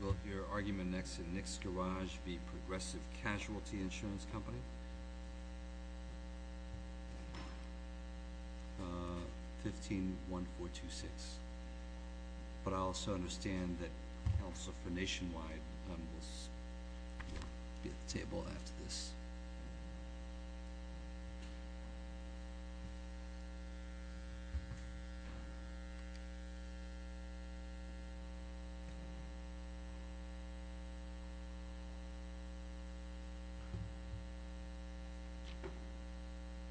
Will your argument next in Nick's Garage be Progressive Casualty Insurance Company? Uh, 15-1426. But I also understand that Council for Nationwide will be at the table after this.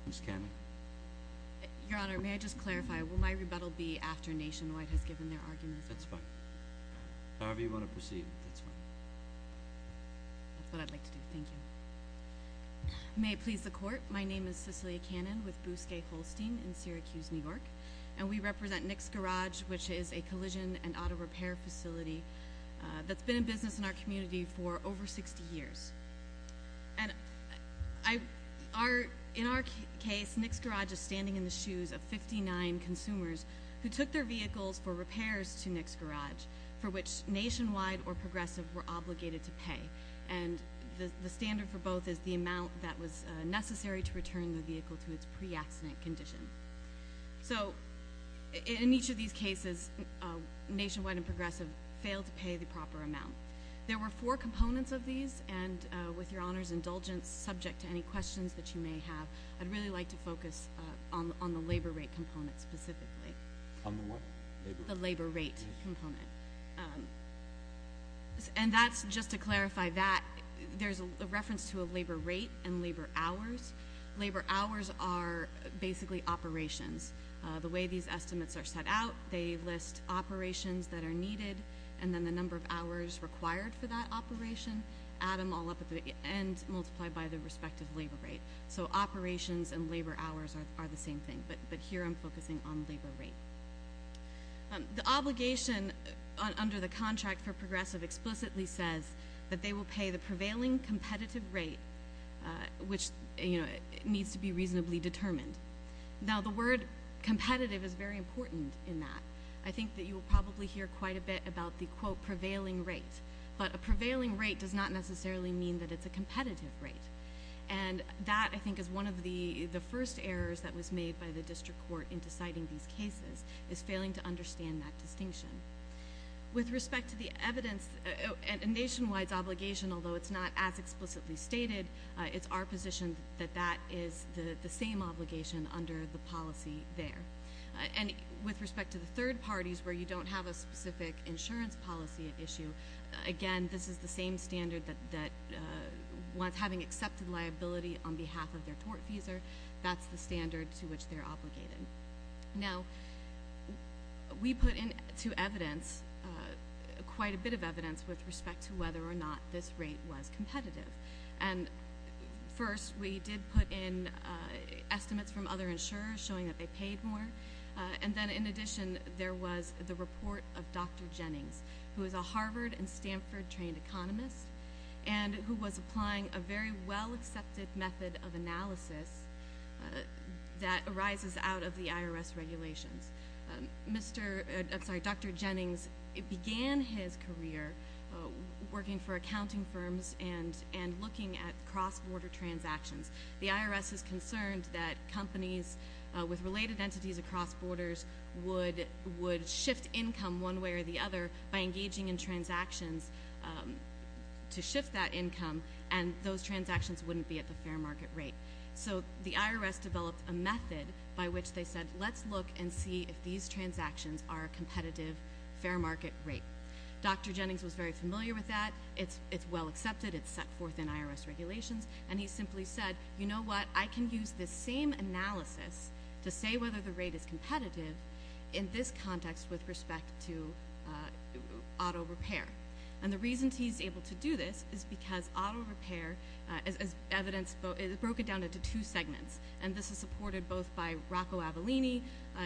Ms. Cannon? Your Honor, may I just clarify, will my rebuttal be after Nationwide has given their argument? That's fine. However you want to proceed, that's fine. That's what I'd like to do. Thank you. May it please the Court, my name is Cicely Cannon with Bousquet Holstein in Syracuse, New York. And we represent Nick's Garage, which is a collision and auto repair facility that's been in business in our community for over 60 years. And in our case, Nick's Garage is standing in the shoes of 59 consumers who took their vehicles for repairs to Nick's Garage, for which Nationwide or Progressive were obligated to pay. And the standard for both is the amount that was necessary to return the vehicle to its pre-accident condition. So, in each of these cases, Nationwide and Progressive failed to pay the proper amount. There were four components of these, and with Your Honor's indulgence, subject to any questions that you may have, I'd really like to focus on the labor rate component specifically. On the what? The labor rate component. And that's, just to clarify that, there's a reference to a labor rate and labor hours. Labor hours are basically operations. The way these estimates are set out, they list operations that are needed and then the number of hours required for that operation, add them all up at the end, multiplied by the respective labor rate. So operations and labor hours are the same thing. But here I'm focusing on labor rate. The obligation under the contract for Progressive explicitly says that they will pay the prevailing competitive rate, which needs to be reasonably determined. Now, the word competitive is very important in that. I think that you will probably hear quite a bit about the, quote, prevailing rate. But a prevailing rate does not necessarily mean that it's a competitive rate. And that, I think, is one of the first errors that was made by the district court in deciding these cases, is failing to understand that distinction. With respect to the evidence, Nationwide's obligation, although it's not as explicitly stated, it's our position that that is the same obligation under the policy there. And with respect to the third parties, where you don't have a specific insurance policy issue, again, this is the same standard that once having accepted liability on behalf of their tortfeasor, that's the standard to which they're obligated. Now, we put into evidence quite a bit of evidence with respect to whether or not this rate was competitive. And, first, we did put in estimates from other insurers showing that they paid more. And then, in addition, there was the report of Dr. Jennings, who is a Harvard and Stanford-trained economist, and who was applying a very well-accepted method of analysis that arises out of the IRS regulations. Dr. Jennings began his career working for accounting firms and looking at cross-border transactions. The IRS is concerned that companies with related entities across borders would shift income one way or the other by engaging in transactions to shift that income, and those transactions wouldn't be at the fair market rate. So the IRS developed a method by which they said, let's look and see if these transactions are a competitive fair market rate. Dr. Jennings was very familiar with that. It's well accepted. It's set forth in IRS regulations. And he simply said, you know what? I can use this same analysis to say whether the rate is competitive in this context with respect to auto repair. And the reason he's able to do this is because auto repair, as evidenced, is broken down into two segments. And this is supported both by Rocco Avelini.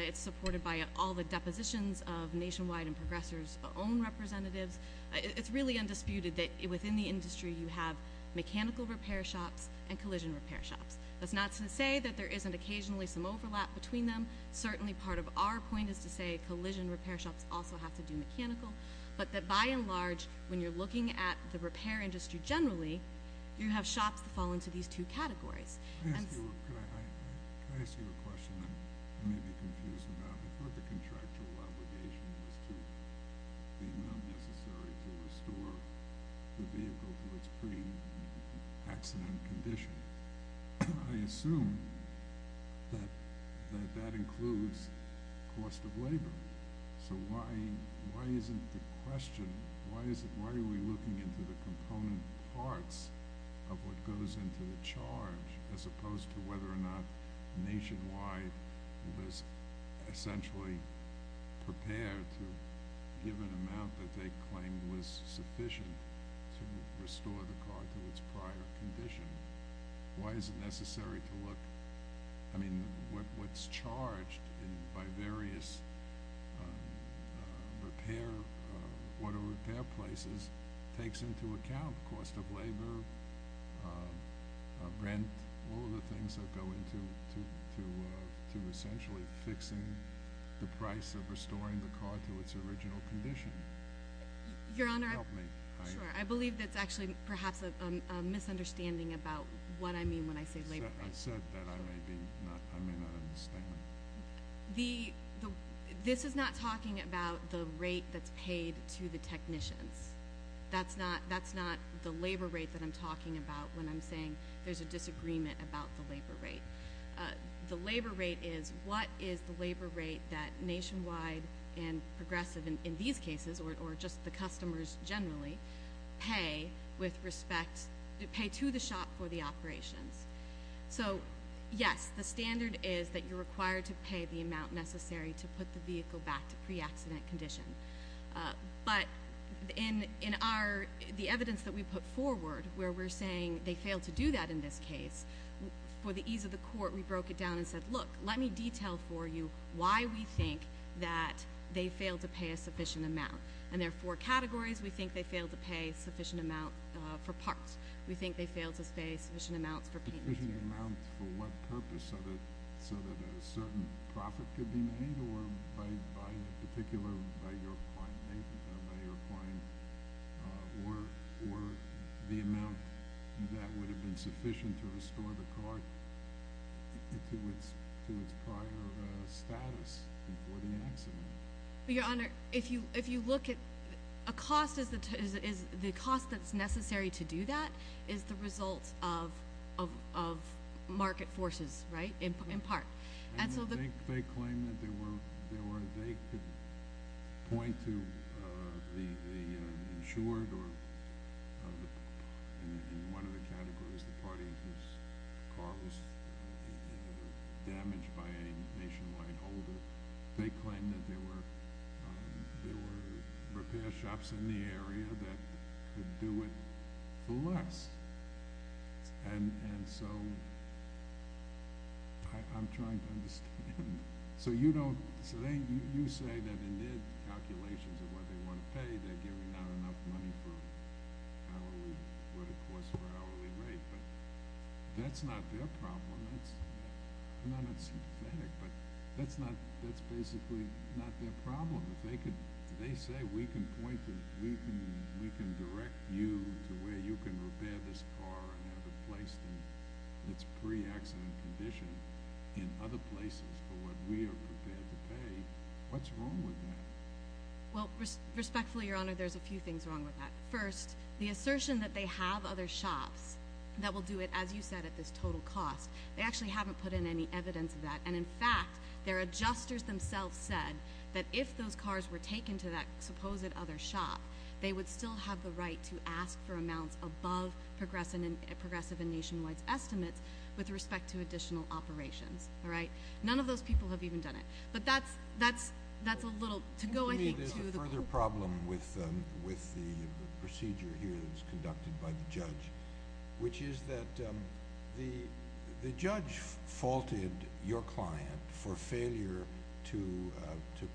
It's supported by all the depositions of Nationwide and Progressive's own representatives. It's really undisputed that within the industry you have mechanical repair shops and collision repair shops. That's not to say that there isn't occasionally some overlap between them. Certainly part of our point is to say collision repair shops also have to do mechanical. But by and large, when you're looking at the repair industry generally, you have shops that fall into these two categories. Can I ask you a question that you may be confused about? I thought the contractual obligation was the amount necessary to restore the vehicle to its pre-accident condition. I assume that that includes cost of labor. So why isn't the question – why are we looking into the component parts of what goes into the charge as opposed to whether or not Nationwide was essentially prepared to give an amount that they claimed was sufficient to restore the car to its prior condition? Why is it necessary to look – I mean, what's charged by various auto repair places takes into account cost of labor, rent, all of the things that go into essentially fixing the price of restoring the car to its original condition. Your Honor, I believe that's actually perhaps a misunderstanding about what I mean when I say labor rate. I said that I may not understand. This is not talking about the rate that's paid to the technicians. That's not the labor rate that I'm talking about when I'm saying there's a disagreement about the labor rate. The labor rate is what is the labor rate that Nationwide and Progressive in these cases, or just the customers generally, pay with respect – pay to the shop for the operations. So, yes, the standard is that you're required to pay the amount necessary to put the vehicle back to pre-accident condition. But in our – the evidence that we put forward where we're saying they failed to do that in this case, for the ease of the court, we broke it down and said, look, let me detail for you why we think that they failed to pay a sufficient amount. And there are four categories. We think they failed to pay a sufficient amount for parts. We think they failed to pay sufficient amounts for painting. A sufficient amount for what purpose? So that a certain profit could be made or by the particular – by your client or the amount that would have been sufficient to restore the car to its prior status before the accident? Your Honor, if you look at – a cost is – the cost that's necessary to do that is the result of market forces, right, in part. They claim that there were – they could point to the insured or – in one of the categories, the party whose car was damaged by a nationwide holder. They claim that there were repair shops in the area that could do it for less. And so I'm trying to understand. So you don't – so you say that in their calculations of what they want to pay, they're giving out enough money for hourly – what it costs for hourly rate. But that's not their problem. That's – I'm not sympathetic, but that's not – that's basically not their problem. If they could – if they say we can point to – we can direct you to where you can repair this car and have it placed in its pre-accident condition in other places for what we are prepared to pay, what's wrong with that? Well, respectfully, Your Honor, there's a few things wrong with that. First, the assertion that they have other shops that will do it, as you said, at this total cost, they actually haven't put in any evidence of that. And, in fact, their adjusters themselves said that if those cars were taken to that supposed other shop, they would still have the right to ask for amounts above progressive and nationwide estimates with respect to additional operations. All right? None of those people have even done it. But that's – that's a little – to go, I think, to the – There's a further problem with the procedure here that's conducted by the judge, which is that the judge faulted your client for failure to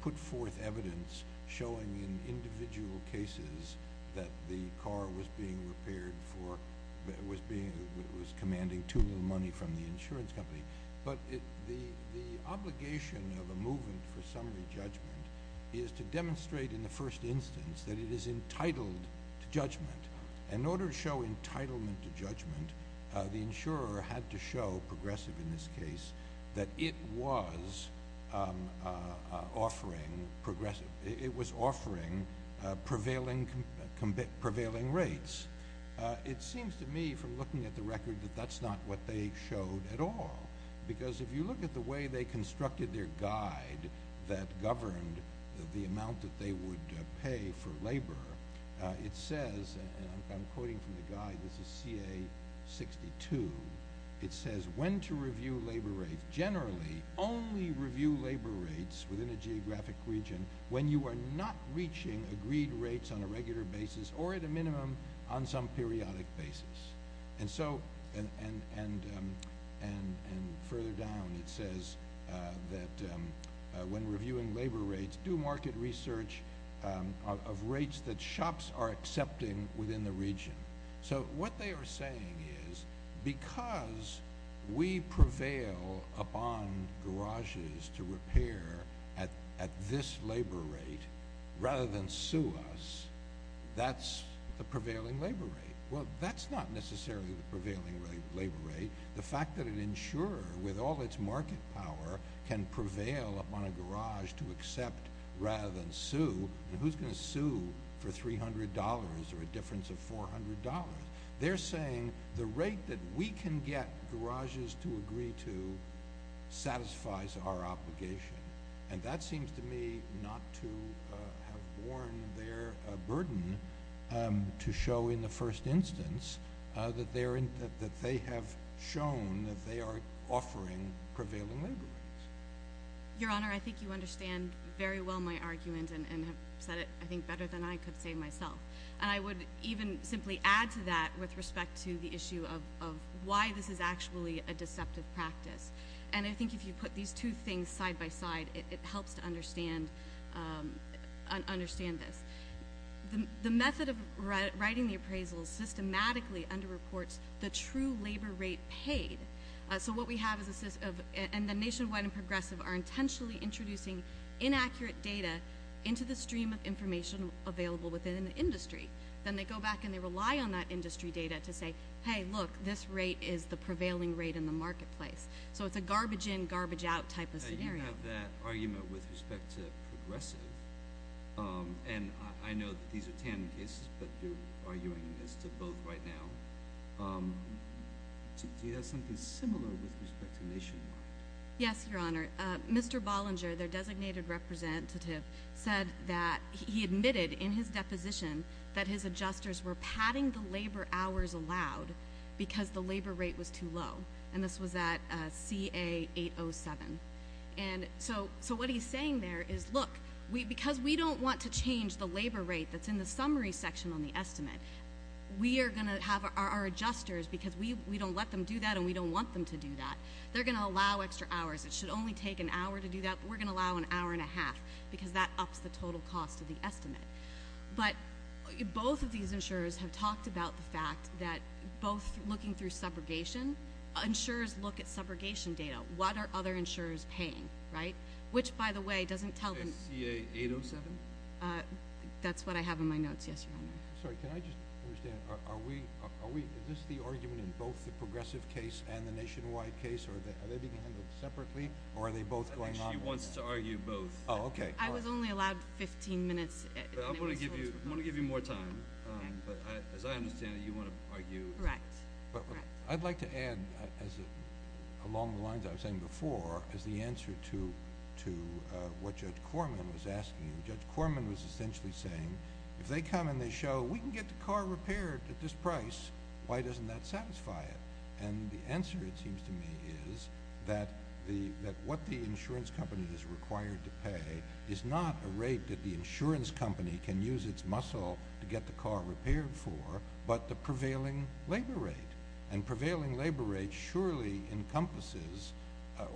put forth evidence showing in individual cases that the car was being repaired for – was being – was commanding too little money from the insurance company. But the obligation of a movement for summary judgment is to demonstrate in the first instance that it is entitled to judgment. And in order to show entitlement to judgment, the insurer had to show, progressive in this case, that it was offering progressive – it was offering prevailing rates. It seems to me from looking at the record that that's not what they showed at all because if you look at the way they constructed their guide that governed the amount that they would pay for labor, it says – and I'm quoting from the guide. This is CA-62. It says, when to review labor rates. Generally, only review labor rates within a geographic region when you are not reaching agreed rates on a regular basis or at a minimum on some periodic basis. And so – and further down, it says that when reviewing labor rates, do market research of rates that shops are accepting within the region. So what they are saying is because we prevail upon garages to repair at this labor rate rather than sue us, that's the prevailing labor rate. Well, that's not necessarily the prevailing labor rate. The fact that an insurer, with all its market power, can prevail upon a garage to accept rather than sue, and who's going to sue for $300 or a difference of $400? They're saying the rate that we can get garages to agree to satisfies our obligation. And that seems to me not to have borne their burden to show in the first instance that they have shown that they are offering prevailing labor rates. Your Honor, I think you understand very well my argument and have said it, I think, better than I could say myself. And I would even simply add to that with respect to the issue of why this is actually a deceptive practice. And I think if you put these two things side by side, it helps to understand this. The method of writing the appraisals systematically under-reports the true labor rate paid. So what we have is a system of – and the nationwide and progressive are intentionally introducing inaccurate data into the stream of information available within the industry. Then they go back and they rely on that industry data to say, hey, look, this rate is the prevailing rate in the marketplace. So it's a garbage in, garbage out type of scenario. So you can have that argument with respect to progressive. And I know that these are tandem cases, but you're arguing this to both right now. Do you have something similar with respect to nationwide? Yes, Your Honor. Mr. Bollinger, their designated representative, said that he admitted in his deposition that his adjusters were padding the labor hours allowed because the labor rate was too low. And this was at CA807. And so what he's saying there is, look, because we don't want to change the labor rate that's in the summary section on the estimate, we are going to have our adjusters because we don't let them do that and we don't want them to do that. They're going to allow extra hours. It should only take an hour to do that, but we're going to allow an hour and a half because that ups the total cost of the estimate. But both of these insurers have talked about the fact that both looking through subrogation, insurers look at subrogation data. What are other insurers paying, right? Which, by the way, doesn't tell them. CA807? That's what I have in my notes, yes, Your Honor. Sorry, can I just understand, are we, is this the argument in both the progressive case and the nationwide case or are they being handled separately or are they both going on? She wants to argue both. Oh, okay. I was only allowed 15 minutes. I'm going to give you more time, but as I understand it, you want to argue. Correct. I'd like to add, along the lines I was saying before, is the answer to what Judge Corman was asking. Judge Corman was essentially saying, if they come and they show, we can get the car repaired at this price, why doesn't that satisfy it? And the answer, it seems to me, is that what the insurance company is required to pay is not a rate that the insurance company can use its muscle to get the car repaired for, but the prevailing labor rate. And prevailing labor rate surely encompasses,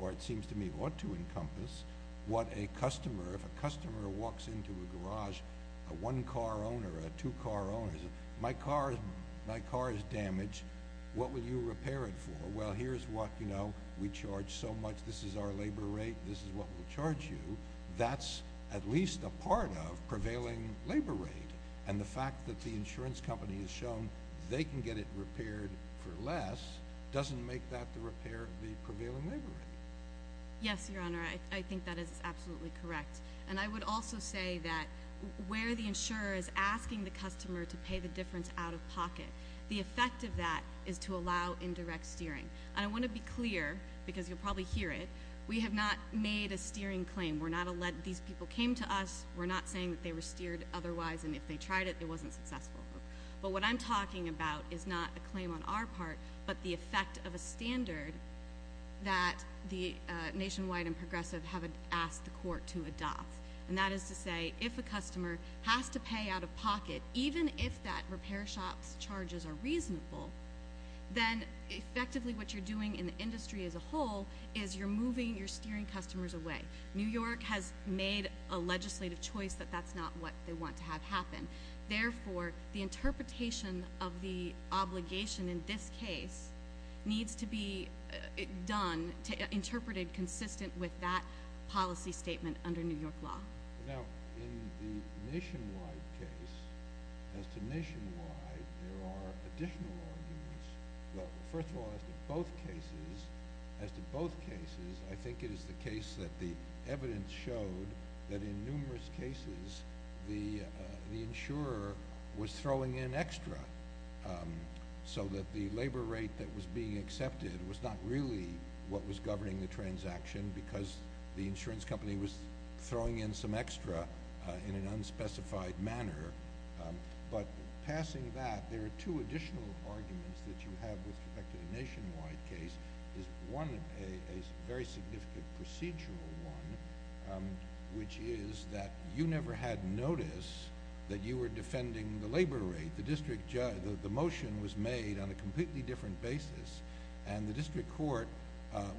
or it seems to me ought to encompass, what a customer, if a customer walks into a garage, a one-car owner, a two-car owner, my car is damaged, what will you repair it for? Well, here's what we charge so much. This is our labor rate. This is what we'll charge you. That's at least a part of prevailing labor rate. And the fact that the insurance company has shown they can get it repaired for less doesn't make that the repair of the prevailing labor rate. Yes, Your Honor, I think that is absolutely correct. And I would also say that where the insurer is asking the customer to pay the difference out of pocket, the effect of that is to allow indirect steering. And I want to be clear, because you'll probably hear it, we have not made a steering claim. These people came to us, we're not saying they were steered otherwise, and if they tried it, it wasn't successful. But what I'm talking about is not a claim on our part, but the effect of a standard that the Nationwide and Progressive have asked the court to adopt. And that is to say, if a customer has to pay out of pocket, even if that repair shop's charges are reasonable, then effectively what you're doing in the industry as a whole is you're moving, you're steering customers away. New York has made a legislative choice that that's not what they want to have happen. Therefore, the interpretation of the obligation in this case needs to be done, interpreted consistent with that policy statement under New York law. Now, in the Nationwide case, as to Nationwide, there are additional arguments. Well, first of all, as to both cases, I think it is the case that the evidence showed that in numerous cases the insurer was throwing in extra, so that the labor rate that was being accepted was not really what was governing the transaction because the insurance company was throwing in some extra in an unspecified manner. But passing that, there are two additional arguments that you have with respect to the Nationwide case. There's one, a very significant procedural one, which is that you never had notice that you were defending the labor rate. I think the motion was made on a completely different basis, and the district court,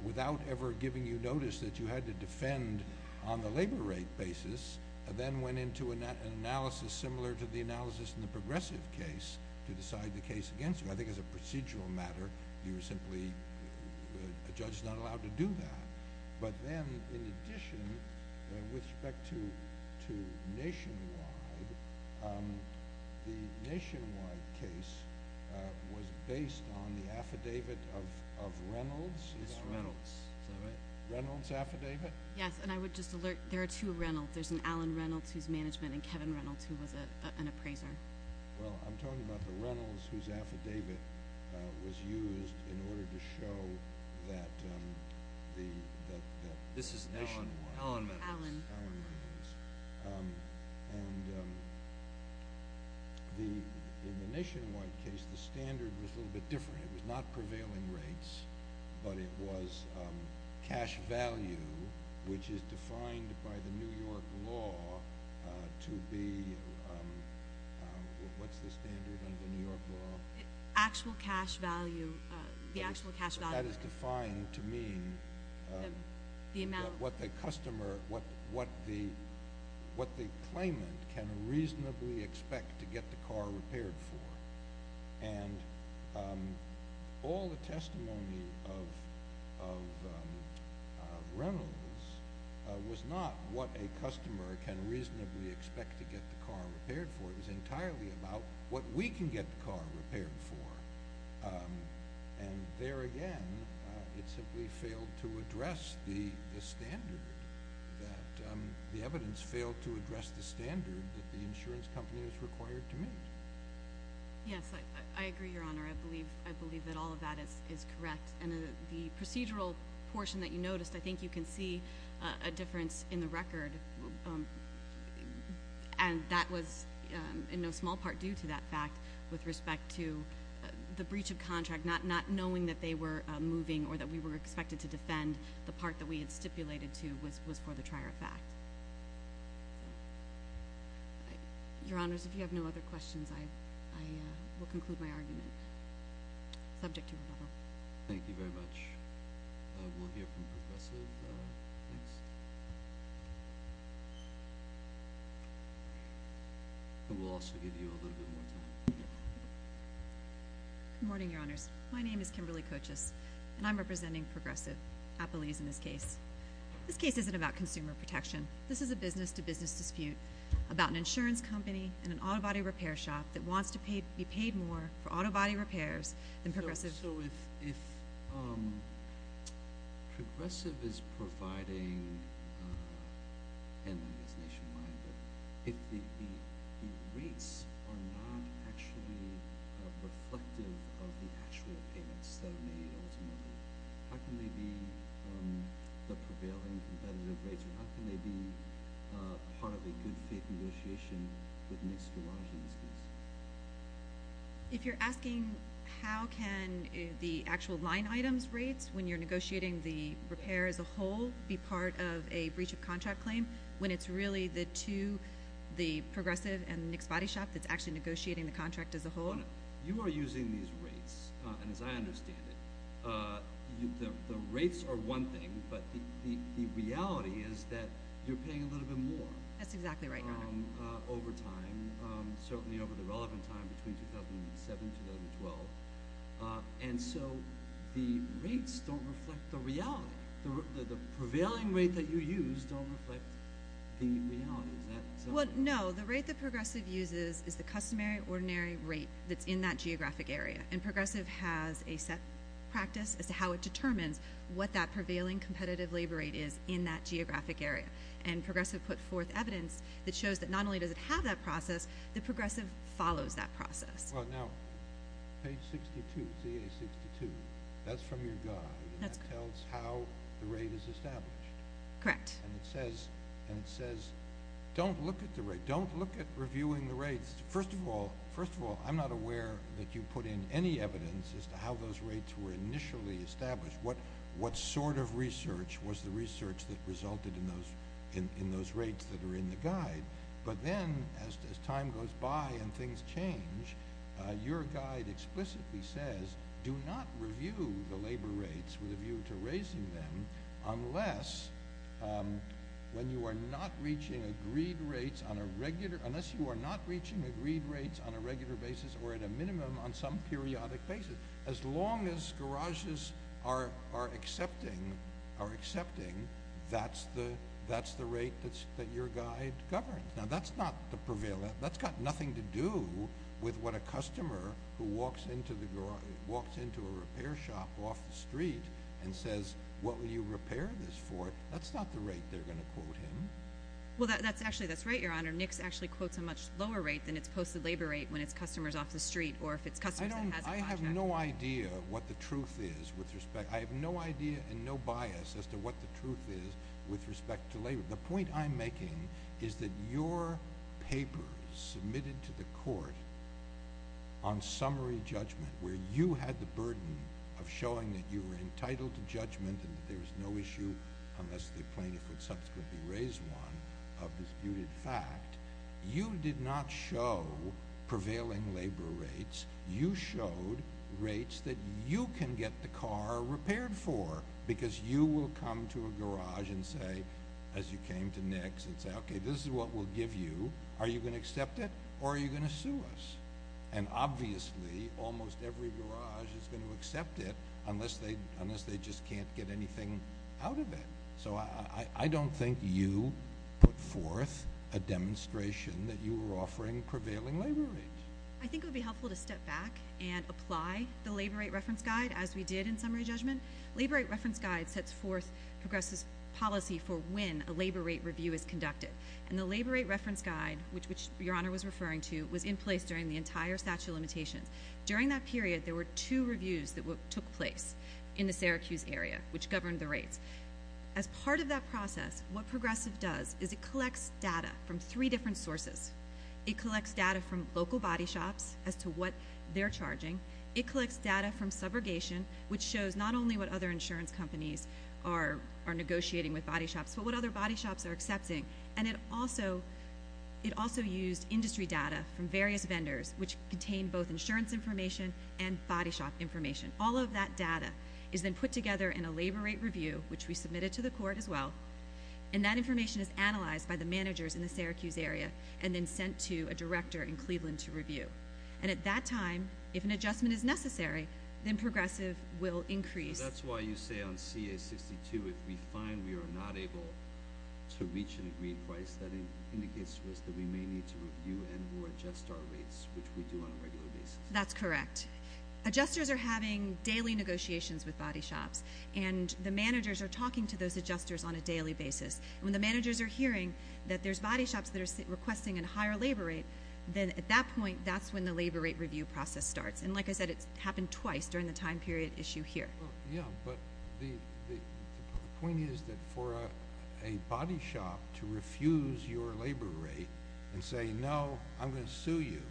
without ever giving you notice that you had to defend on the labor rate basis, then went into an analysis similar to the analysis in the Progressive case to decide the case against you. I think as a procedural matter, you were simply—a judge is not allowed to do that. But then, in addition, with respect to Nationwide, the Nationwide case was based on the affidavit of Reynolds. It's Reynolds. Is that right? Reynolds' affidavit? Yes, and I would just alert—there are two Reynolds. There's an Alan Reynolds, who's management, and Kevin Reynolds, who was an appraiser. Well, I'm talking about the Reynolds whose affidavit was used in order to show that the Nationwide— This is Alan Reynolds. And in the Nationwide case, the standard was a little bit different. It was not prevailing rates, but it was cash value, which is defined by the New York law to be—what's the standard under the New York law? Actual cash value. The actual cash value. That is defined to mean what the customer—what the claimant can reasonably expect to get the car repaired for. And all the testimony of Reynolds was not what a customer can reasonably expect to get the car repaired for. It was entirely about what we can get the car repaired for. And there again, it simply failed to address the standard that—the evidence failed to address the standard that the insurance company is required to meet. Yes, I agree, Your Honor. I believe that all of that is correct. And the procedural portion that you noticed, I think you can see a difference in the record, and that was in no small part due to that fact with respect to the breach of contract, not knowing that they were moving or that we were expected to defend the part that we had stipulated to was for the trier of fact. Your Honors, if you have no other questions, I will conclude my argument subject to rebuttal. Thank you very much. We'll hear from Progressive, please. And we'll also give you a little bit more time. Good morning, Your Honors. My name is Kimberly Kochis, and I'm representing Progressive Appellees in this case. This case isn't about consumer protection. This is a business-to-business dispute about an insurance company and an auto body repair shop that wants to be paid more for auto body repairs than Progressive. So if Progressive is providing, and I guess Nationwide, but if the rates are not actually reflective of the actual payments that are made ultimately, how can they be the prevailing competitive rates, or how can they be part of a good-faith negotiation with an escarrage in this case? If you're asking how can the actual line items rates, when you're negotiating the repair as a whole, be part of a breach of contract claim, when it's really the two, the Progressive and the Nick's Body Shop, that's actually negotiating the contract as a whole? You are using these rates, and as I understand it, the rates are one thing, but the reality is that you're paying a little bit more. Over time, certainly over the relevant time, between 2007-2012, and so the rates don't reflect the reality. The prevailing rate that you use don't reflect the reality. Is that exactly right? Well, no. The rate that Progressive uses is the customary, ordinary rate that's in that geographic area, and Progressive has a set practice as to how it determines what that prevailing competitive labor rate is in that geographic area. Progressive put forth evidence that shows that not only does it have that process, that Progressive follows that process. Well, now, page 62, CA62, that's from your guide, and that tells how the rate is established. Correct. It says, don't look at the rate. Don't look at reviewing the rates. First of all, I'm not aware that you put in any evidence as to how those rates were initially established. What sort of research was the research that resulted in those rates that are in the guide? But then, as time goes by and things change, your guide explicitly says, do not review the labor rates with a view to raising them unless you are not reaching agreed rates on a regular basis or at a minimum on some periodic basis. As long as garages are accepting, that's the rate that your guide governs. Now, that's got nothing to do with what a customer who walks into a repair shop off the street and says, what will you repair this for? That's not the rate they're going to quote him. Well, actually, that's right, Your Honor. Nix actually quotes a much lower rate than it's posted labor rate when it's customers off the street or if it's customers that has a contract. I have no idea what the truth is with respect – I have no idea and no bias as to what the truth is with respect to labor. The point I'm making is that your paper submitted to the court on summary judgment, where you had the burden of showing that you were entitled to judgment and there was no issue unless the plaintiff would subsequently raise one of disputed fact. You did not show prevailing labor rates. You showed rates that you can get the car repaired for because you will come to a garage and say, as you came to Nix, and say, okay, this is what we'll give you. Are you going to accept it or are you going to sue us? And obviously, almost every garage is going to accept it unless they just can't get anything out of it. So I don't think you put forth a demonstration that you were offering prevailing labor rates. I think it would be helpful to step back and apply the labor rate reference guide as we did in summary judgment. Labor rate reference guide sets forth progressive policy for when a labor rate review is conducted. And the labor rate reference guide, which your Honor was referring to, was in place during the entire statute of limitations. During that period, there were two reviews that took place in the Syracuse area, which governed the rates. As part of that process, what progressive does is it collects data from three different sources. It collects data from local body shops as to what they're charging. It collects data from subrogation, which shows not only what other insurance companies are negotiating with body shops, but what other body shops are accepting. And it also used industry data from various vendors, which contained both insurance information and body shop information. All of that data is then put together in a labor rate review, which we submitted to the court as well. And that information is analyzed by the managers in the Syracuse area and then sent to a director in Cleveland to review. And at that time, if an adjustment is necessary, then progressive will increase. That's why you say on CA62, if we find we are not able to reach an agreed price, that indicates to us that we may need to review and or adjust our rates, which we do on a regular basis. That's correct. Adjusters are having daily negotiations with body shops, and the managers are talking to those adjusters on a daily basis. When the managers are hearing that there's body shops that are requesting a higher labor rate, then at that point, that's when the labor rate review process starts. And like I said, it's happened twice during the time period issue here. Yeah, but the point is that for a body shop to refuse your labor rate and say, no, I'm going to sue you,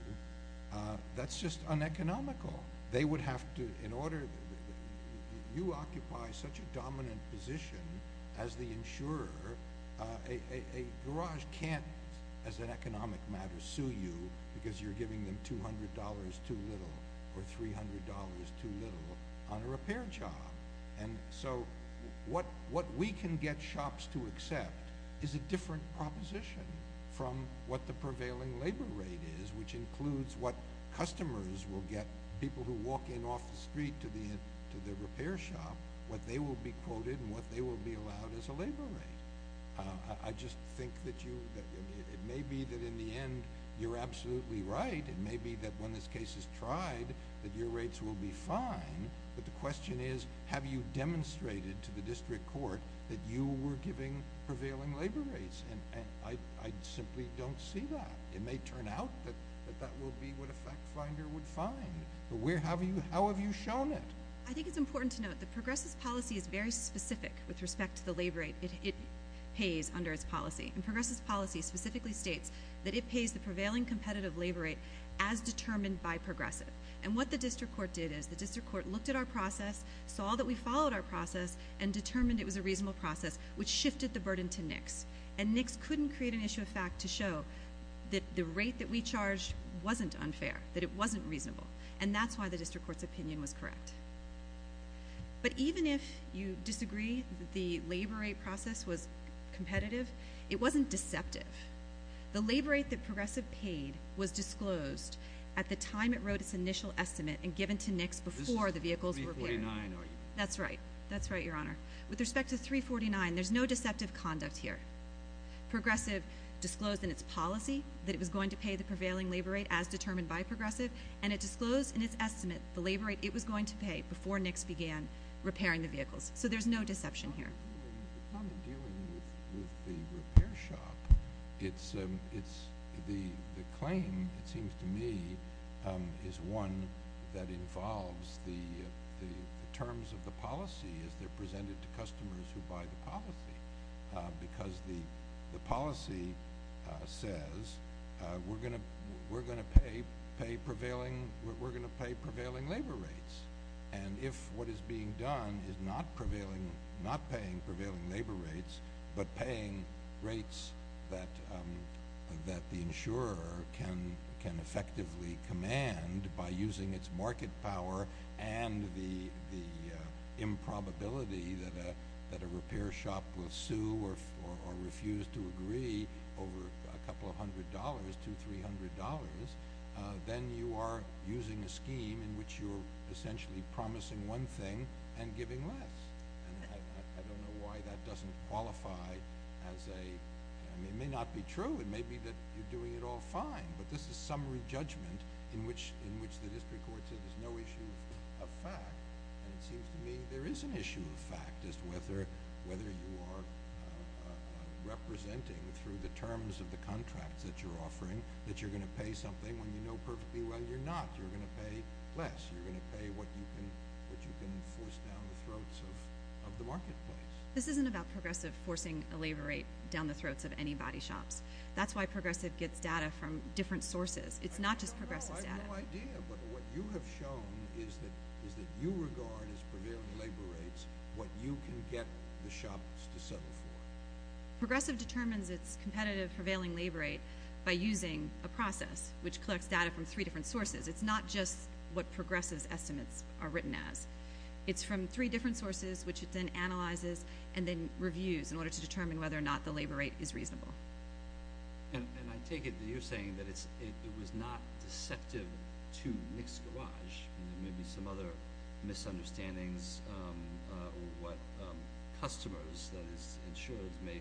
that's just uneconomical. You occupy such a dominant position as the insurer. A garage can't, as an economic matter, sue you because you're giving them $200 too little or $300 too little on a repair job. And so what we can get shops to accept is a different proposition from what the prevailing labor rate is, which includes what customers will get, people who walk in off the street to the repair shop, what they will be quoted and what they will be allowed as a labor rate. I just think that it may be that in the end, you're absolutely right. It may be that when this case is tried, that your rates will be fine. But the question is, have you demonstrated to the district court that you were giving prevailing labor rates? And I simply don't see that. It may turn out that that will be what a fact finder would find. But how have you shown it? I think it's important to note that Progressive's policy is very specific with respect to the labor rate. It pays under its policy. And Progressive's policy specifically states that it pays the prevailing competitive labor rate as determined by Progressive. And what the district court did is the district court looked at our process, saw that we followed our process, and determined it was a reasonable process, which shifted the burden to NICS. And NICS couldn't create an issue of fact to show that the rate that we charged wasn't unfair, that it wasn't reasonable. And that's why the district court's opinion was correct. But even if you disagree that the labor rate process was competitive, it wasn't deceptive. The labor rate that Progressive paid was disclosed at the time it wrote its initial estimate and given to NICS before the vehicles were carried. That's right. That's right, Your Honor. With respect to 349, there's no deceptive conduct here. Progressive disclosed in its policy that it was going to pay the prevailing labor rate as determined by Progressive. And it disclosed in its estimate the labor rate it was going to pay before NICS began repairing the vehicles. So there's no deception here. It's not in dealing with the repair shop. It's the claim, it seems to me, is one that involves the terms of the policy as they're presented to customers who buy the policy. Because the policy says, we're going to pay prevailing labor rates. And if what is being done is not paying prevailing labor rates but paying rates that the insurer can effectively command by using its market power and the improbability that a repair shop will sue or refuse to agree over a couple of hundred dollars, two, three hundred dollars, then you are using a scheme in which you're essentially promising one thing and giving less. And I don't know why that doesn't qualify as a—it may not be true. It may be that you're doing it all fine. But this is summary judgment in which the district court says there's no issue of fact. And it seems to me there is an issue of fact as to whether you are representing through the terms of the contracts that you're offering that you're going to pay something when you know perfectly well you're not. You're going to pay less. You're going to pay what you can force down the throats of the marketplace. This isn't about Progressive forcing a labor rate down the throats of anybody's shops. That's why Progressive gets data from different sources. It's not just Progressive's data. I have no idea. But what you have shown is that you regard as prevailing labor rates what you can get the shops to settle for. Progressive determines its competitive prevailing labor rate by using a process which collects data from three different sources. It's not just what Progressive's estimates are written as. It's from three different sources, which it then analyzes and then reviews in order to determine whether or not the labor rate is reasonable. And I take it that you're saying that it was not deceptive to Nick's Garage. There may be some other misunderstandings or what customers, that is insured, may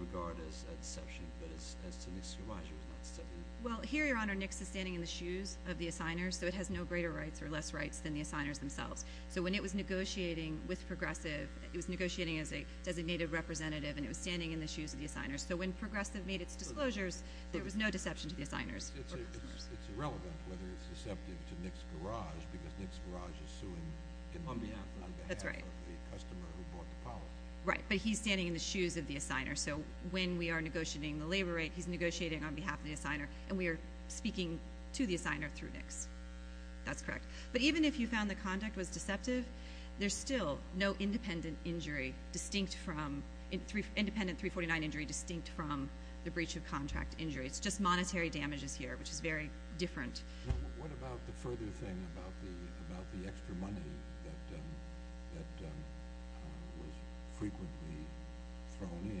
regard as a deception, but as to Nick's Garage, it was not deceptive. Well, here, Your Honor, Nick's is standing in the shoes of the assigners, so it has no greater rights or less rights than the assigners themselves. So when it was negotiating with Progressive, it was negotiating as a designated representative, and it was standing in the shoes of the assigners. So when Progressive made its disclosures, there was no deception to the assigners. It's irrelevant whether it's deceptive to Nick's Garage because Nick's Garage is suing on behalf of the customer who bought the policy. Right, but he's standing in the shoes of the assigners. So when we are negotiating the labor rate, he's negotiating on behalf of the assigner, and we are speaking to the assigner through Nick's. That's correct. But even if you found the conduct was deceptive, there's still no independent injury distinct from— independent 349 injury distinct from the breach of contract injury. It's just monetary damages here, which is very different. What about the further thing about the extra money that was frequently thrown in in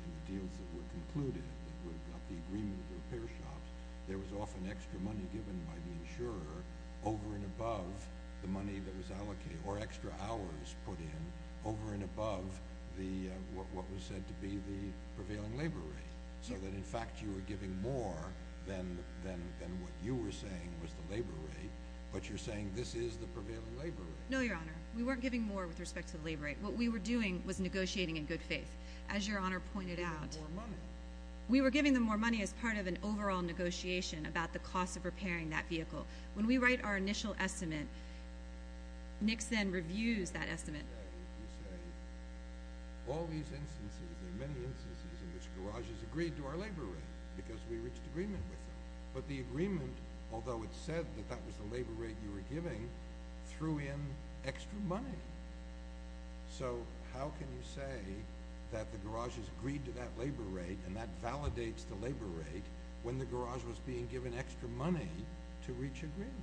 the deals that were concluded, the agreement with the repair shops? There was often extra money given by the insurer over and above the money that was allocated or extra hours put in over and above what was said to be the prevailing labor rate, so that in fact you were giving more than what you were saying was the labor rate, but you're saying this is the prevailing labor rate. No, Your Honor. We weren't giving more with respect to the labor rate. What we were doing was negotiating in good faith. As Your Honor pointed out— You were giving more money. We were giving them more money as part of an overall negotiation about the cost of repairing that vehicle. When we write our initial estimate, Nick then reviews that estimate. You say all these instances, there are many instances in which garages agreed to our labor rate because we reached agreement with them. But the agreement, although it said that that was the labor rate you were giving, threw in extra money. So how can you say that the garages agreed to that labor rate and that validates the labor rate when the garage was being given extra money to reach agreement?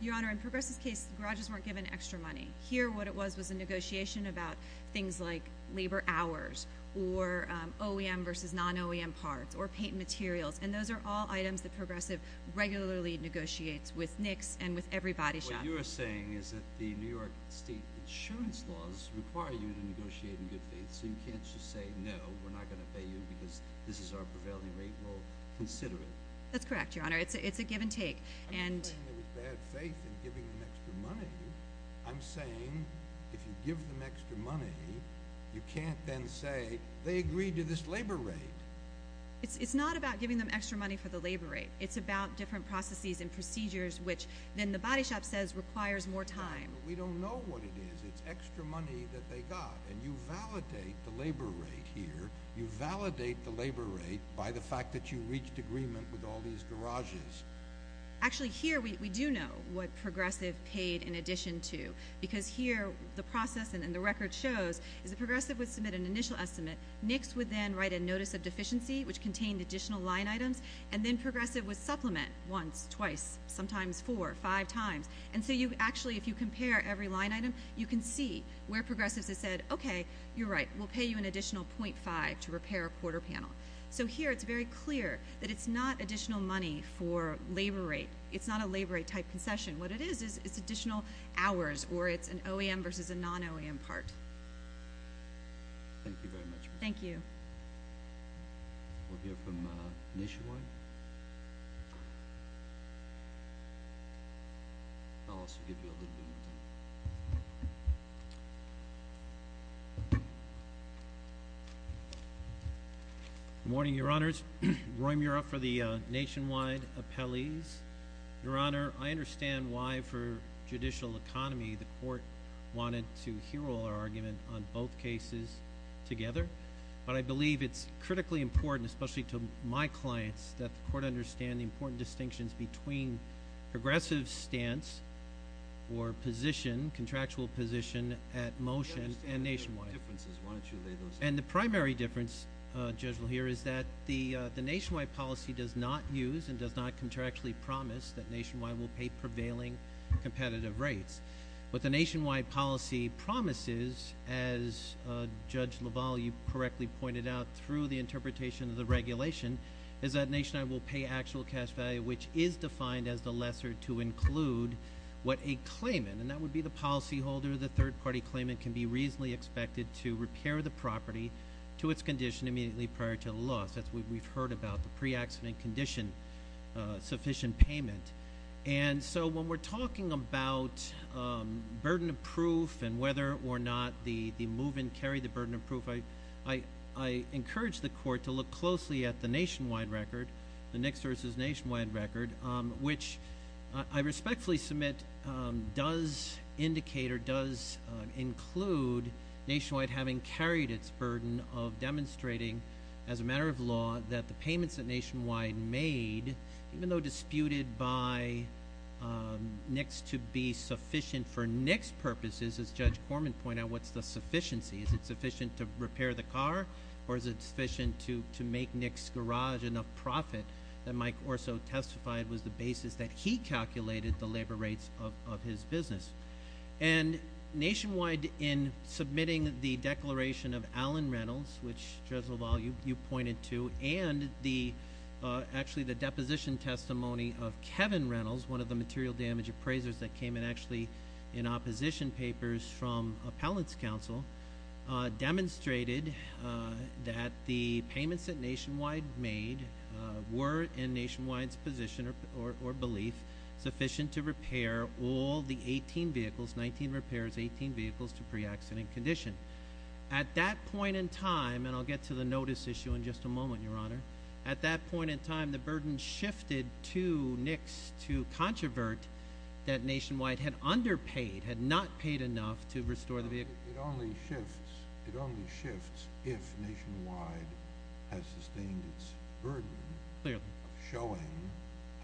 Your Honor, in Progress' case, the garages weren't given extra money. Here, what it was was a negotiation about things like labor hours or OEM versus non-OEM parts or paint materials. And those are all items that Progressive regularly negotiates with Nick's and with everybody's shop. What you are saying is that the New York State insurance laws require you to negotiate in good faith, so you can't just say, no, we're not going to pay you because this is our prevailing rate. We'll consider it. That's correct, Your Honor. It's a give and take. I'm not saying there was bad faith in giving them extra money. I'm saying if you give them extra money, you can't then say they agreed to this labor rate. It's not about giving them extra money for the labor rate. It's about different processes and procedures, which then the body shop says requires more time. We don't know what it is. It's extra money that they got. And you validate the labor rate here. You validate the labor rate by the fact that you reached agreement with all these garages. Actually, here we do know what Progressive paid in addition to, because here the process and the record shows is that Progressive would submit an initial estimate. Nick's would then write a notice of deficiency, which contained additional line items. And then Progressive would supplement once, twice, sometimes four, five times. And so you actually, if you compare every line item, you can see where Progressive has said, okay, you're right. We'll pay you an additional .5 to repair a quarter panel. So here it's very clear that it's not additional money for labor rate. It's not a labor rate type concession. What it is is it's additional hours, or it's an OEM versus a non-OEM part. Thank you very much. Thank you. We'll hear from Nishiwai. Good morning, Your Honors. Roy Mura for the Nationwide Appellees. Your Honor, I understand why for judicial economy the court wanted to hero our argument on both cases together. But I believe it's critically important, especially to my clients, that the court understand the important distinctions between progressive stance or position, contractual position at motion and nationwide. I understand the differences. Why don't you lay those out? And the primary difference, Judge LaValle, here is that the nationwide policy does not use and does not contractually promise that nationwide will pay prevailing competitive rates. But the nationwide policy promises, as Judge LaValle, you correctly pointed out, through the interpretation of the regulation, is that nationwide will pay actual cash value, which is defined as the lesser to include what a claimant, and that would be the policyholder, the third-party claimant, can be reasonably expected to repair the property to its condition immediately prior to the loss. That's what we've heard about, the pre-accident condition sufficient payment. And so when we're talking about burden of proof and whether or not the move-in carried the burden of proof, I encourage the court to look closely at the nationwide record, the Nix v. Nationwide record, which I respectfully submit does indicate or does include nationwide having carried its burden of demonstrating as a matter of law that the payments that Nationwide made, even though disputed by Nix to be sufficient for Nix purposes, as Judge Corman pointed out, what's the sufficiency? Is it sufficient to repair the car or is it sufficient to make Nix Garage enough profit that Mike Orso testified was the basis that he calculated the labor rates of his business? And Nationwide, in submitting the declaration of Allen Rentals, which, Judge LaValle, you pointed to, and actually the deposition testimony of Kevin Rentals, one of the material damage appraisers that came in actually in opposition papers from Appellant's Counsel, demonstrated that the payments that Nationwide made were, in Nationwide's position or belief, sufficient to repair all the 18 vehicles, 19 repairs, 18 vehicles to pre-accident condition. At that point in time, and I'll get to the notice issue in just a moment, Your Honor, at that point in time the burden shifted to Nix to controvert that Nationwide had underpaid, had not paid enough to restore the vehicle. It only shifts if Nationwide has sustained its burden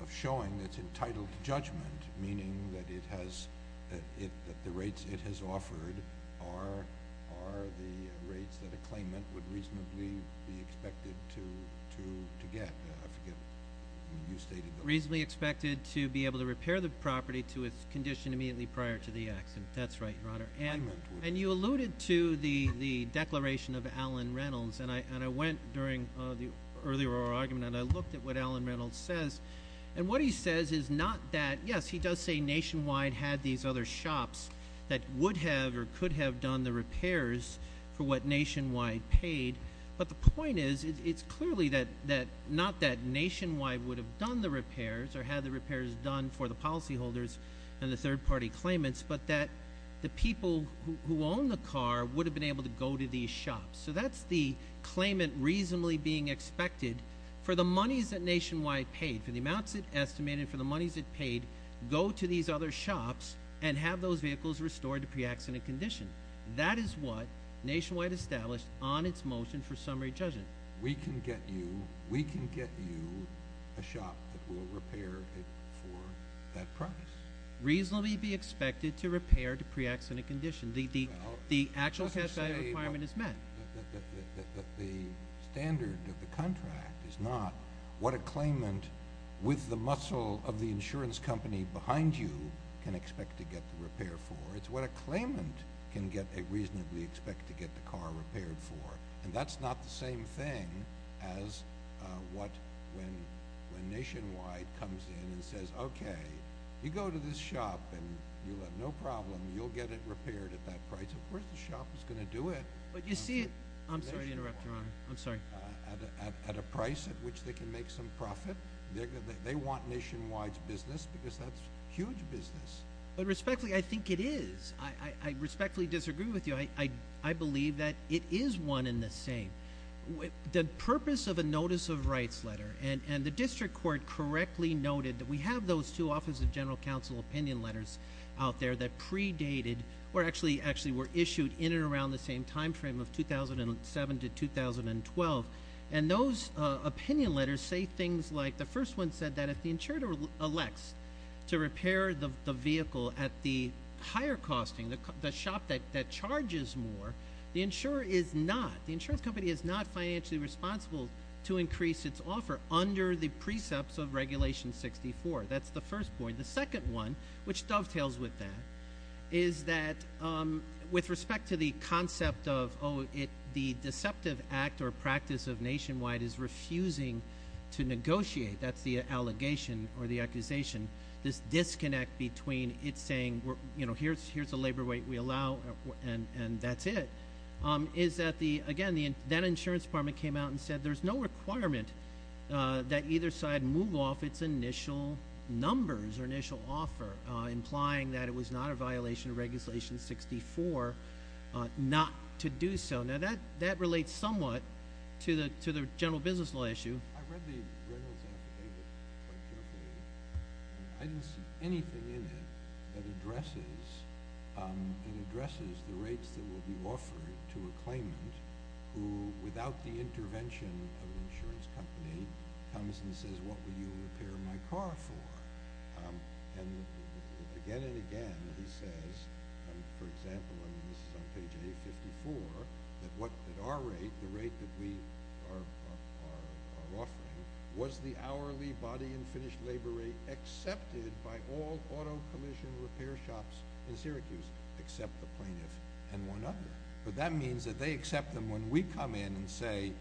of showing its entitled judgment, meaning that the rates it has offered are the rates that a claimant would reasonably be expected to get. I forget when you stated that. Reasonably expected to be able to repair the property to its condition immediately prior to the accident. That's right, Your Honor. And you alluded to the declaration of Allen Rentals, and I went during the earlier argument and I looked at what Allen Rentals says, and what he says is not that, yes, he does say Nationwide had these other shops that would have or could have done the repairs for what Nationwide paid, but the point is it's clearly not that Nationwide would have done the repairs or had the repairs done for the policyholders and the third-party claimants, but that the people who own the car would have been able to go to these shops. So that's the claimant reasonably being expected for the monies that Nationwide paid, for the amounts it estimated, for the monies it paid, go to these other shops and have those vehicles restored to pre-accident condition. That is what Nationwide established on its motion for summary judgment. We can get you a shop that will repair it for that price. Reasonably be expected to repair to pre-accident condition. The actual cash value requirement is met. The standard of the contract is not what a claimant with the muscle of the insurance company behind you can expect to get the repair for. It's what a claimant can reasonably expect to get the car repaired for, and that's not the same thing as what when Nationwide comes in and says, okay, you go to this shop and you'll have no problem. You'll get it repaired at that price. Of course the shop is going to do it. But you see it—I'm sorry to interrupt, Your Honor. I'm sorry. At a price at which they can make some profit. They want Nationwide's business because that's huge business. But respectfully, I think it is. I respectfully disagree with you. I believe that it is one and the same. The purpose of a notice of rights letter, and the district court correctly noted that we have those two Office of General Counsel opinion letters out there that predated or actually were issued in and around the same time frame of 2007 to 2012, and those opinion letters say things like the first one said that if the insurer elects to repair the vehicle at the higher costing, the shop that charges more, the insurer is not. The insurance company is not financially responsible to increase its offer under the precepts of Regulation 64. That's the first point. The second one, which dovetails with that, is that with respect to the concept of, oh, the deceptive act or practice of Nationwide is refusing to negotiate, that's the allegation or the accusation, this disconnect between it saying, you know, here's the labor rate we allow and that's it, is that the, again, that insurance department came out and said there's no requirement that either side move off its initial numbers or initial offer implying that it was not a violation of Regulation 64 not to do so. Now, that relates somewhat to the general business law issue. I read the Reynolds affidavit quite carefully. I didn't see anything in it that addresses the rates that will be offered to a claimant who, without the intervention of an insurance company, comes and says, what will you repair my car for? And again and again he says, for example, and this is on page 854, that at our rate, the rate that we are offering was the hourly body and finished labor rate accepted by all auto commission repair shops in Syracuse, except the plaintiff and one other. But that means that they accept them when we come in and say,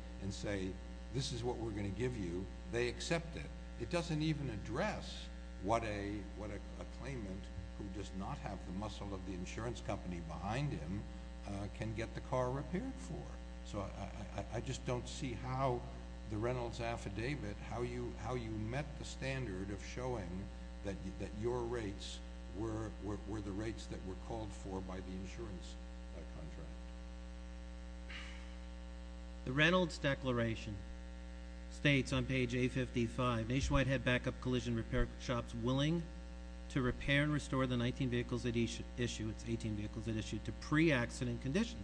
this is what we're going to give you, they accept it. It doesn't even address what a claimant who does not have the muscle of the insurance company behind him can get the car repaired for. So I just don't see how the Reynolds affidavit, how you met the standard of showing that your rates were the rates that were called for by the insurance contract. The Reynolds declaration states on page 855, nationwide head backup collision repair shops willing to repair and restore the 19 vehicles that issue, it's 18 vehicles that issue, to pre-accident condition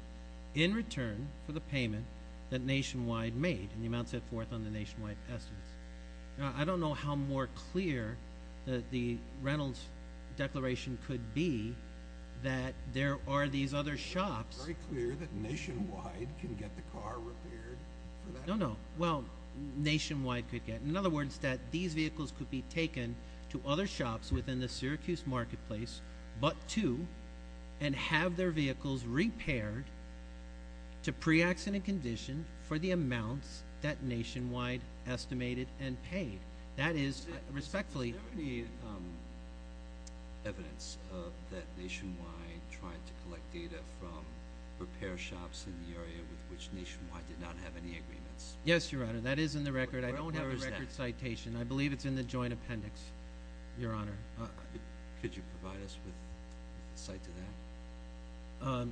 in return for the payment that Nationwide made, and the amount set forth on the Nationwide estimates. Now, I don't know how more clear the Reynolds declaration could be that there are these other shops. It's very clear that Nationwide can get the car repaired for that. No, no. Well, Nationwide could get. In other words, that these vehicles could be taken to other shops within the Syracuse marketplace but to, and have their vehicles repaired to pre-accident condition for the amounts that Nationwide estimated and paid. That is, respectfully. Is there any evidence that Nationwide tried to collect data from repair shops in the area with which Nationwide did not have any agreements? Yes, Your Honor. That is in the record. I don't have a record citation. Where is that? I believe it's in the joint appendix, Your Honor. Could you provide us with insight to that?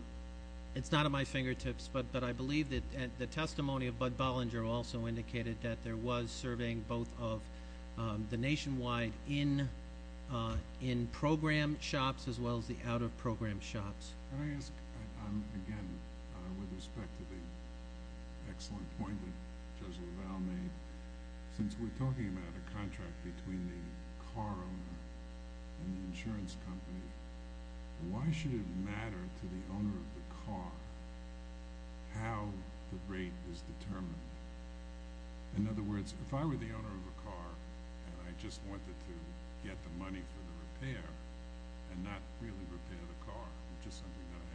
It's not at my fingertips, but I believe that the testimony of Bud Bollinger also indicated that there was surveying both of the Nationwide in-program shops as well as the out-of-program shops. Can I ask, again, with respect to the excellent point that Judge LaValle made? Since we're talking about a contract between the car owner and the insurance company, why should it matter to the owner of the car how the rate is determined? In other words, if I were the owner of a car and I just wanted to get the money for the repair and not really repair the car, which is something that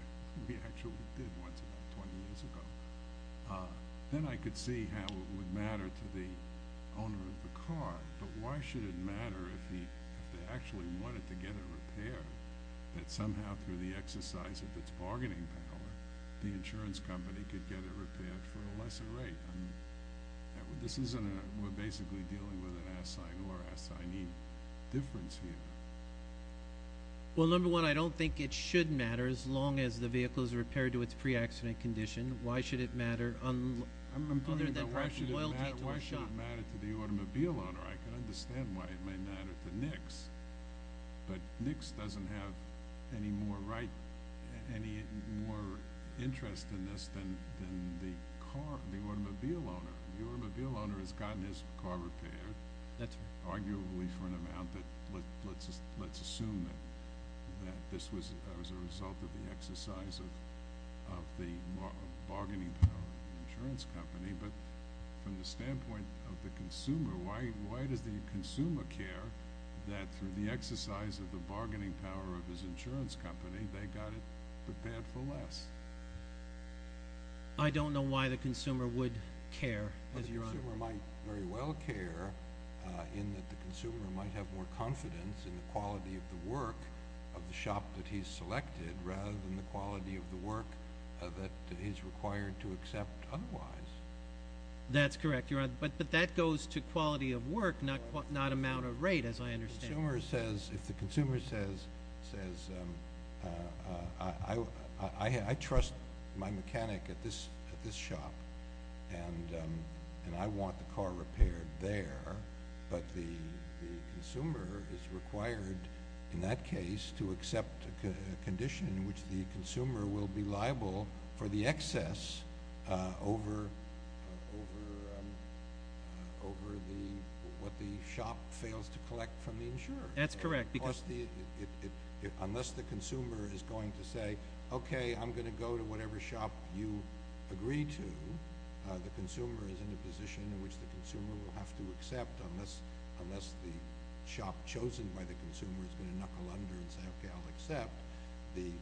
we actually did once about 20 years ago, then I could see how it would matter to the owner of the car. But why should it matter if they actually wanted to get a repair, that somehow through the exercise of its bargaining power, the insurance company could get it repaired for a lesser rate? We're basically dealing with an assignee or assignee difference here. Well, number one, I don't think it should matter as long as the vehicle is repaired to its pre-accident condition. I'm wondering why it should matter to the automobile owner. I can understand why it may matter to NICS, but NICS doesn't have any more interest in this than the automobile owner. The automobile owner has gotten his car repaired, arguably for an amount that let's assume that this was as a result of the exercise of the bargaining power of the insurance company. But from the standpoint of the consumer, why does the consumer care that through the exercise of the bargaining power of his insurance company, they got it repaired for less? I don't know why the consumer would care, Your Honor. But the consumer might very well care in that the consumer might have more confidence in the quality of the work of the shop that he's selected rather than the quality of the work that he's required to accept otherwise. That's correct, Your Honor. But that goes to quality of work, not amount of rate, as I understand. If the consumer says, I trust my mechanic at this shop, and I want the car repaired there, but the consumer is required in that case to accept a condition in which the consumer will be liable for the excess over what the shop fails to collect from the insurer. That's correct. Unless the consumer is going to say, okay, I'm going to go to whatever shop you agree to, the consumer is in a position in which the consumer will have to accept unless the shop chosen by the consumer is going to knuckle under and say, okay, I'll accept. The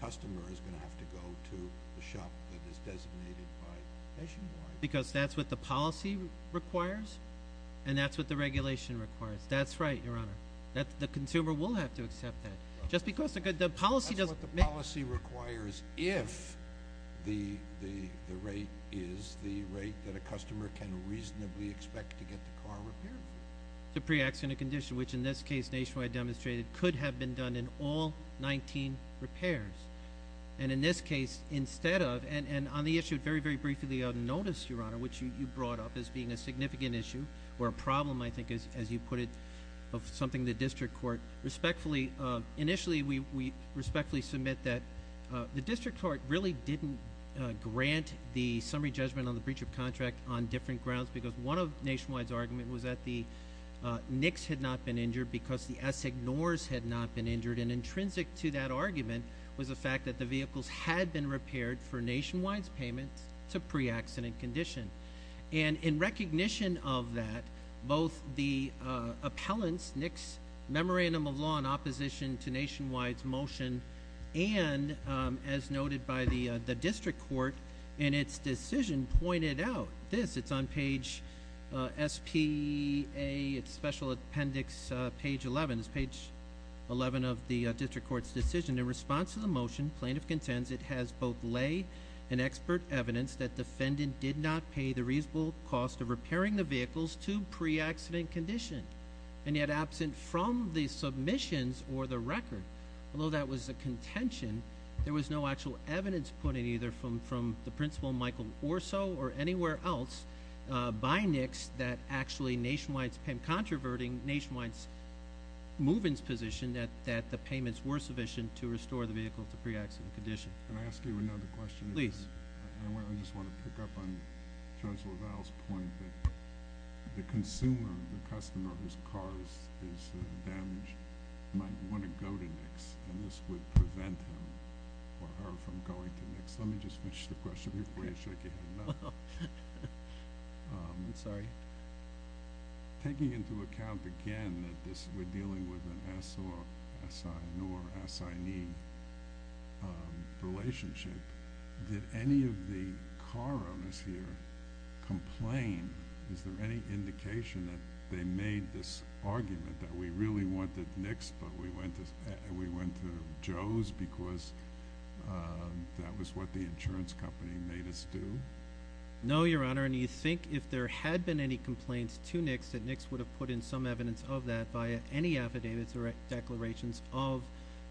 customer is going to have to go to the shop that is designated by nationwide. Because that's what the policy requires, and that's what the regulation requires. That's right, Your Honor. The consumer will have to accept that. That's what the policy requires if the rate is the rate that a customer can reasonably expect to get the car repaired for. It's a pre-accident condition, which in this case, nationwide demonstrated, could have been done in all 19 repairs. And in this case, instead of, and on the issue very, very briefly of notice, Your Honor, which you brought up as being a significant issue or a problem, I think, as you put it, of something the district court respectfully. Initially, we respectfully submit that the district court really didn't grant the summary judgment on the breach of contract on different grounds. Because one of Nationwide's argument was that the NICS had not been injured because the S ignores had not been injured. And intrinsic to that argument was the fact that the vehicles had been repaired for Nationwide's payment to pre-accident condition. And in recognition of that, both the appellant's NICS memorandum of law in opposition to Nationwide's motion. And as noted by the district court in its decision pointed out, this, it's on page SPA, it's special appendix page 11. It's page 11 of the district court's decision. In response to the motion, plaintiff contends it has both lay and expert evidence that defendant did not pay the reasonable cost of repairing the vehicles to pre-accident condition. And yet absent from the submissions or the record. Although that was a contention, there was no actual evidence put in either from the principal Michael Orso or anywhere else by NICS that actually Nationwide's, and controverting Nationwide's movements position that the payments were sufficient to restore the vehicle to pre-accident condition. Can I ask you another question? Please. I just want to pick up on Judge LaValle's point that the consumer, the customer whose car is damaged might want to go to NICS. And this would prevent him or her from going to NICS. Let me just finish the question before you shake your head no. I'm sorry. Taking into account, again, that we're dealing with an assignee relationship. Did any of the car owners here complain? Is there any indication that they made this argument that we really wanted NICS but we went to Joe's because that was what the insurance company made us do? No, Your Honor. And you think if there had been any complaints to NICS that NICS would have put in some evidence of that via any affidavits or declarations of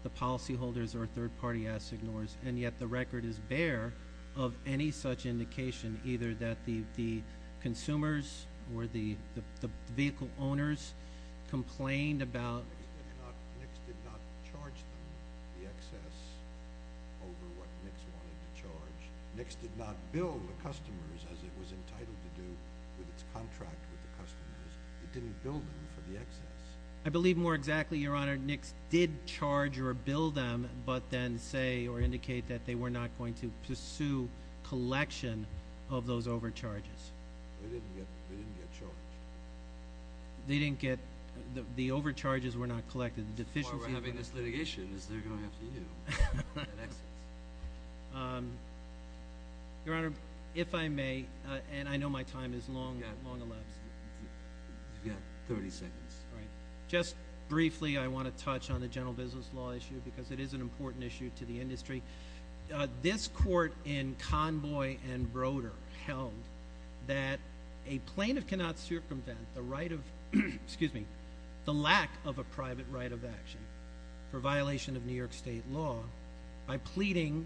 the policyholders or third-party assignors. And yet the record is bare of any such indication either that the consumers or the vehicle owners complained about. NICS did not charge them the excess over what NICS wanted to charge. NICS did not bill the customers as it was entitled to do with its contract with the customers. It didn't bill them for the excess. I believe more exactly, Your Honor. NICS did charge or bill them but then say or indicate that they were not going to pursue collection of those overcharges. They didn't get charged. They didn't get – the overcharges were not collected. As far as we're having this litigation is they're going after you. Your Honor, if I may, and I know my time is long elapsed. You've got 30 seconds. All right. Just briefly I want to touch on the general business law issue because it is an important issue to the industry. This court in Convoy and Broder held that a plaintiff cannot circumvent the right of – excuse me – the lack of a private right of action for violation of New York State law by pleading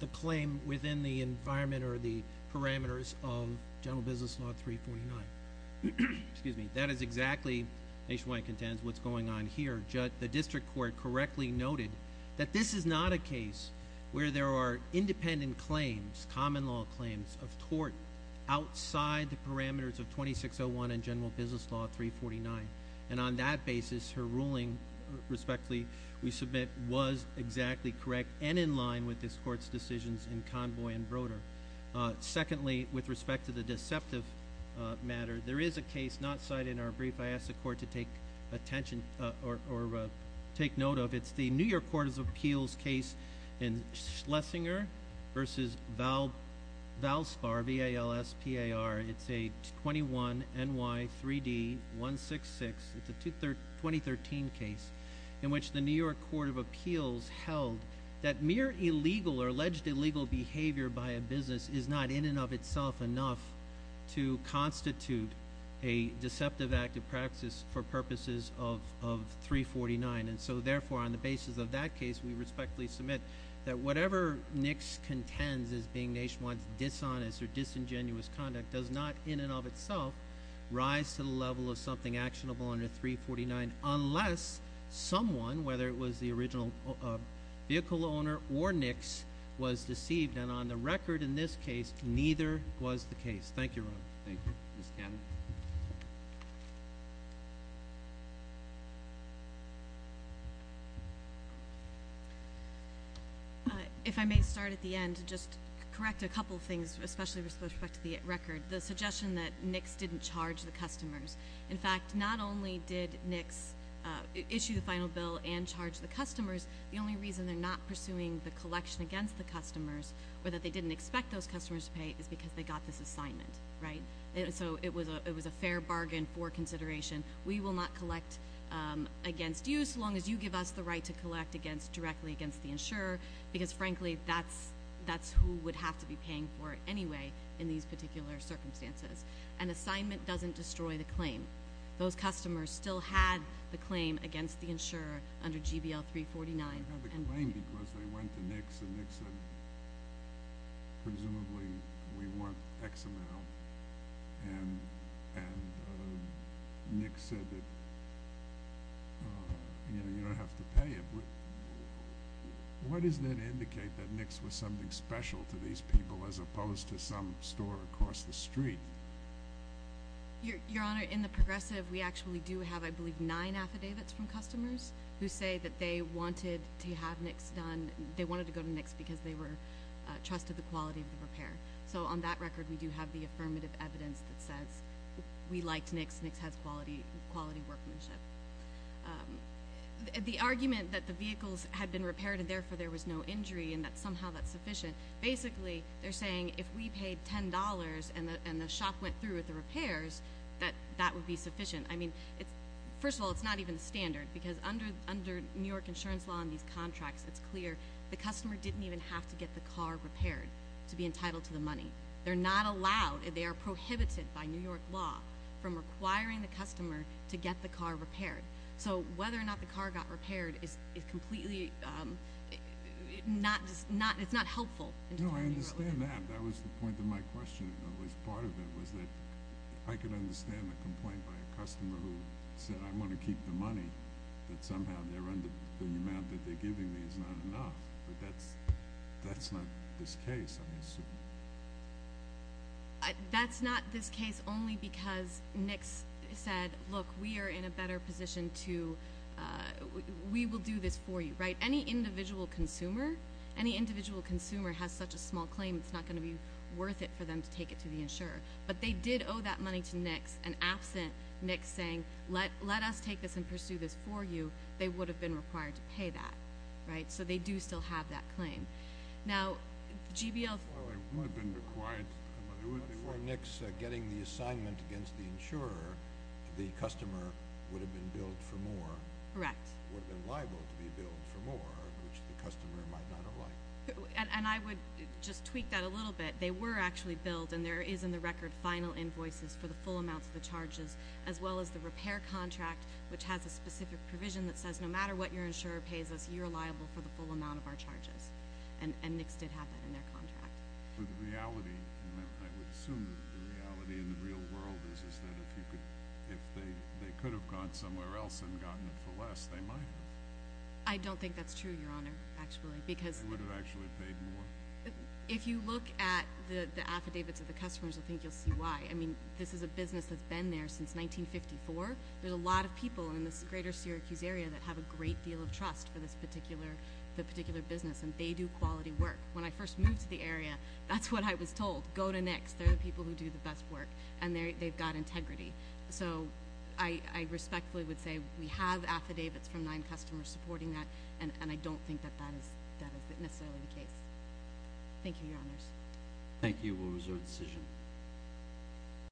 the claim within the environment or the parameters of general business law 349. Excuse me. That is exactly, nationwide contends, what's going on here. The district court correctly noted that this is not a case where there are independent claims, common law claims of tort outside the parameters of 2601 and general business law 349. And on that basis, her ruling, respectfully, we submit was exactly correct and in line with this court's decisions in Convoy and Broder. Secondly, with respect to the deceptive matter, there is a case not cited in our brief. If I ask the court to take attention or take note of it, it's the New York Court of Appeals case in Schlesinger v. Valspar, V-A-L-S-P-A-R. It's a 21NY3D166. It's a 2013 case in which the New York Court of Appeals held that mere illegal or alleged illegal behavior by a business is not in and of itself enough to constitute a deceptive act of praxis for purposes of 349. And so, therefore, on the basis of that case, we respectfully submit that whatever NICS contends as being nationwide dishonest or disingenuous conduct does not in and of itself rise to the level of something actionable under 349 unless someone, whether it was the original vehicle owner or NICS, was deceived, and on the record in this case, neither was the case. Thank you, Your Honor. Thank you. Ms. Cannon? If I may start at the end, just correct a couple of things, especially with respect to the record. The suggestion that NICS didn't charge the customers. In fact, not only did NICS issue the final bill and charge the customers, the only reason they're not pursuing the collection against the customers or that they didn't expect those customers to pay is because they got this assignment, right? And so it was a fair bargain for consideration. We will not collect against you so long as you give us the right to collect directly against the insurer because, frankly, that's who would have to be paying for it anyway in these particular circumstances. An assignment doesn't destroy the claim. Those customers still had the claim against the insurer under GBL 349. They had the claim because they went to NICS and NICS said, presumably, we want X amount. And NICS said that, you know, you don't have to pay it. Why doesn't that indicate that NICS was something special to these people as opposed to some store across the street? Your Honor, in the progressive, we actually do have, I believe, nine affidavits from customers who say that they wanted to have NICS done. They wanted to go to NICS because they trusted the quality of the repair. So on that record, we do have the affirmative evidence that says we liked NICS. NICS has quality workmanship. The argument that the vehicles had been repaired and, therefore, there was no injury and that somehow that's sufficient, basically, they're saying if we paid $10 and the shop went through with the repairs, that that would be sufficient. I mean, first of all, it's not even standard because under New York insurance law and these contracts, it's clear the customer didn't even have to get the car repaired to be entitled to the money. They're not allowed. They are prohibited by New York law from requiring the customer to get the car repaired. So whether or not the car got repaired is completely not helpful. No, I understand that. That was the point of my question. It was part of it was that I could understand a complaint by a customer who said, I'm going to keep the money that somehow the amount that they're giving me is not enough. But that's not this case, I'm assuming. That's not this case only because NICS said, look, we are in a better position to we will do this for you, right? Any individual consumer, any individual consumer has such a small claim, it's not going to be worth it for them to take it to the insurer. But they did owe that money to NICS and absent NICS saying, let us take this and pursue this for you, they would have been required to pay that, right? So they do still have that claim. Now, GBL. It would have been required. Before NICS getting the assignment against the insurer, the customer would have been billed for more. Correct. Would have been liable to be billed for more, which the customer might not have liked. And I would just tweak that a little bit. They were actually billed, and there is in the record final invoices for the full amounts of the charges, as well as the repair contract, which has a specific provision that says no matter what your insurer pays us, you're liable for the full amount of our charges. And NICS did have that in their contract. But the reality, and I would assume that the reality in the real world is that if they could have gone somewhere else and gotten it for less, they might have. I don't think that's true, Your Honor, actually. They would have actually paid more. If you look at the affidavits of the customers, I think you'll see why. I mean, this is a business that's been there since 1954. There's a lot of people in this greater Syracuse area that have a great deal of trust for this particular business, and they do quality work. When I first moved to the area, that's what I was told. Go to NICS. They're the people who do the best work, and they've got integrity. So I respectfully would say we have affidavits from nine customers supporting that, and I don't think that that is necessarily the case. Thank you, Your Honors. Thank you. We'll reserve the decision.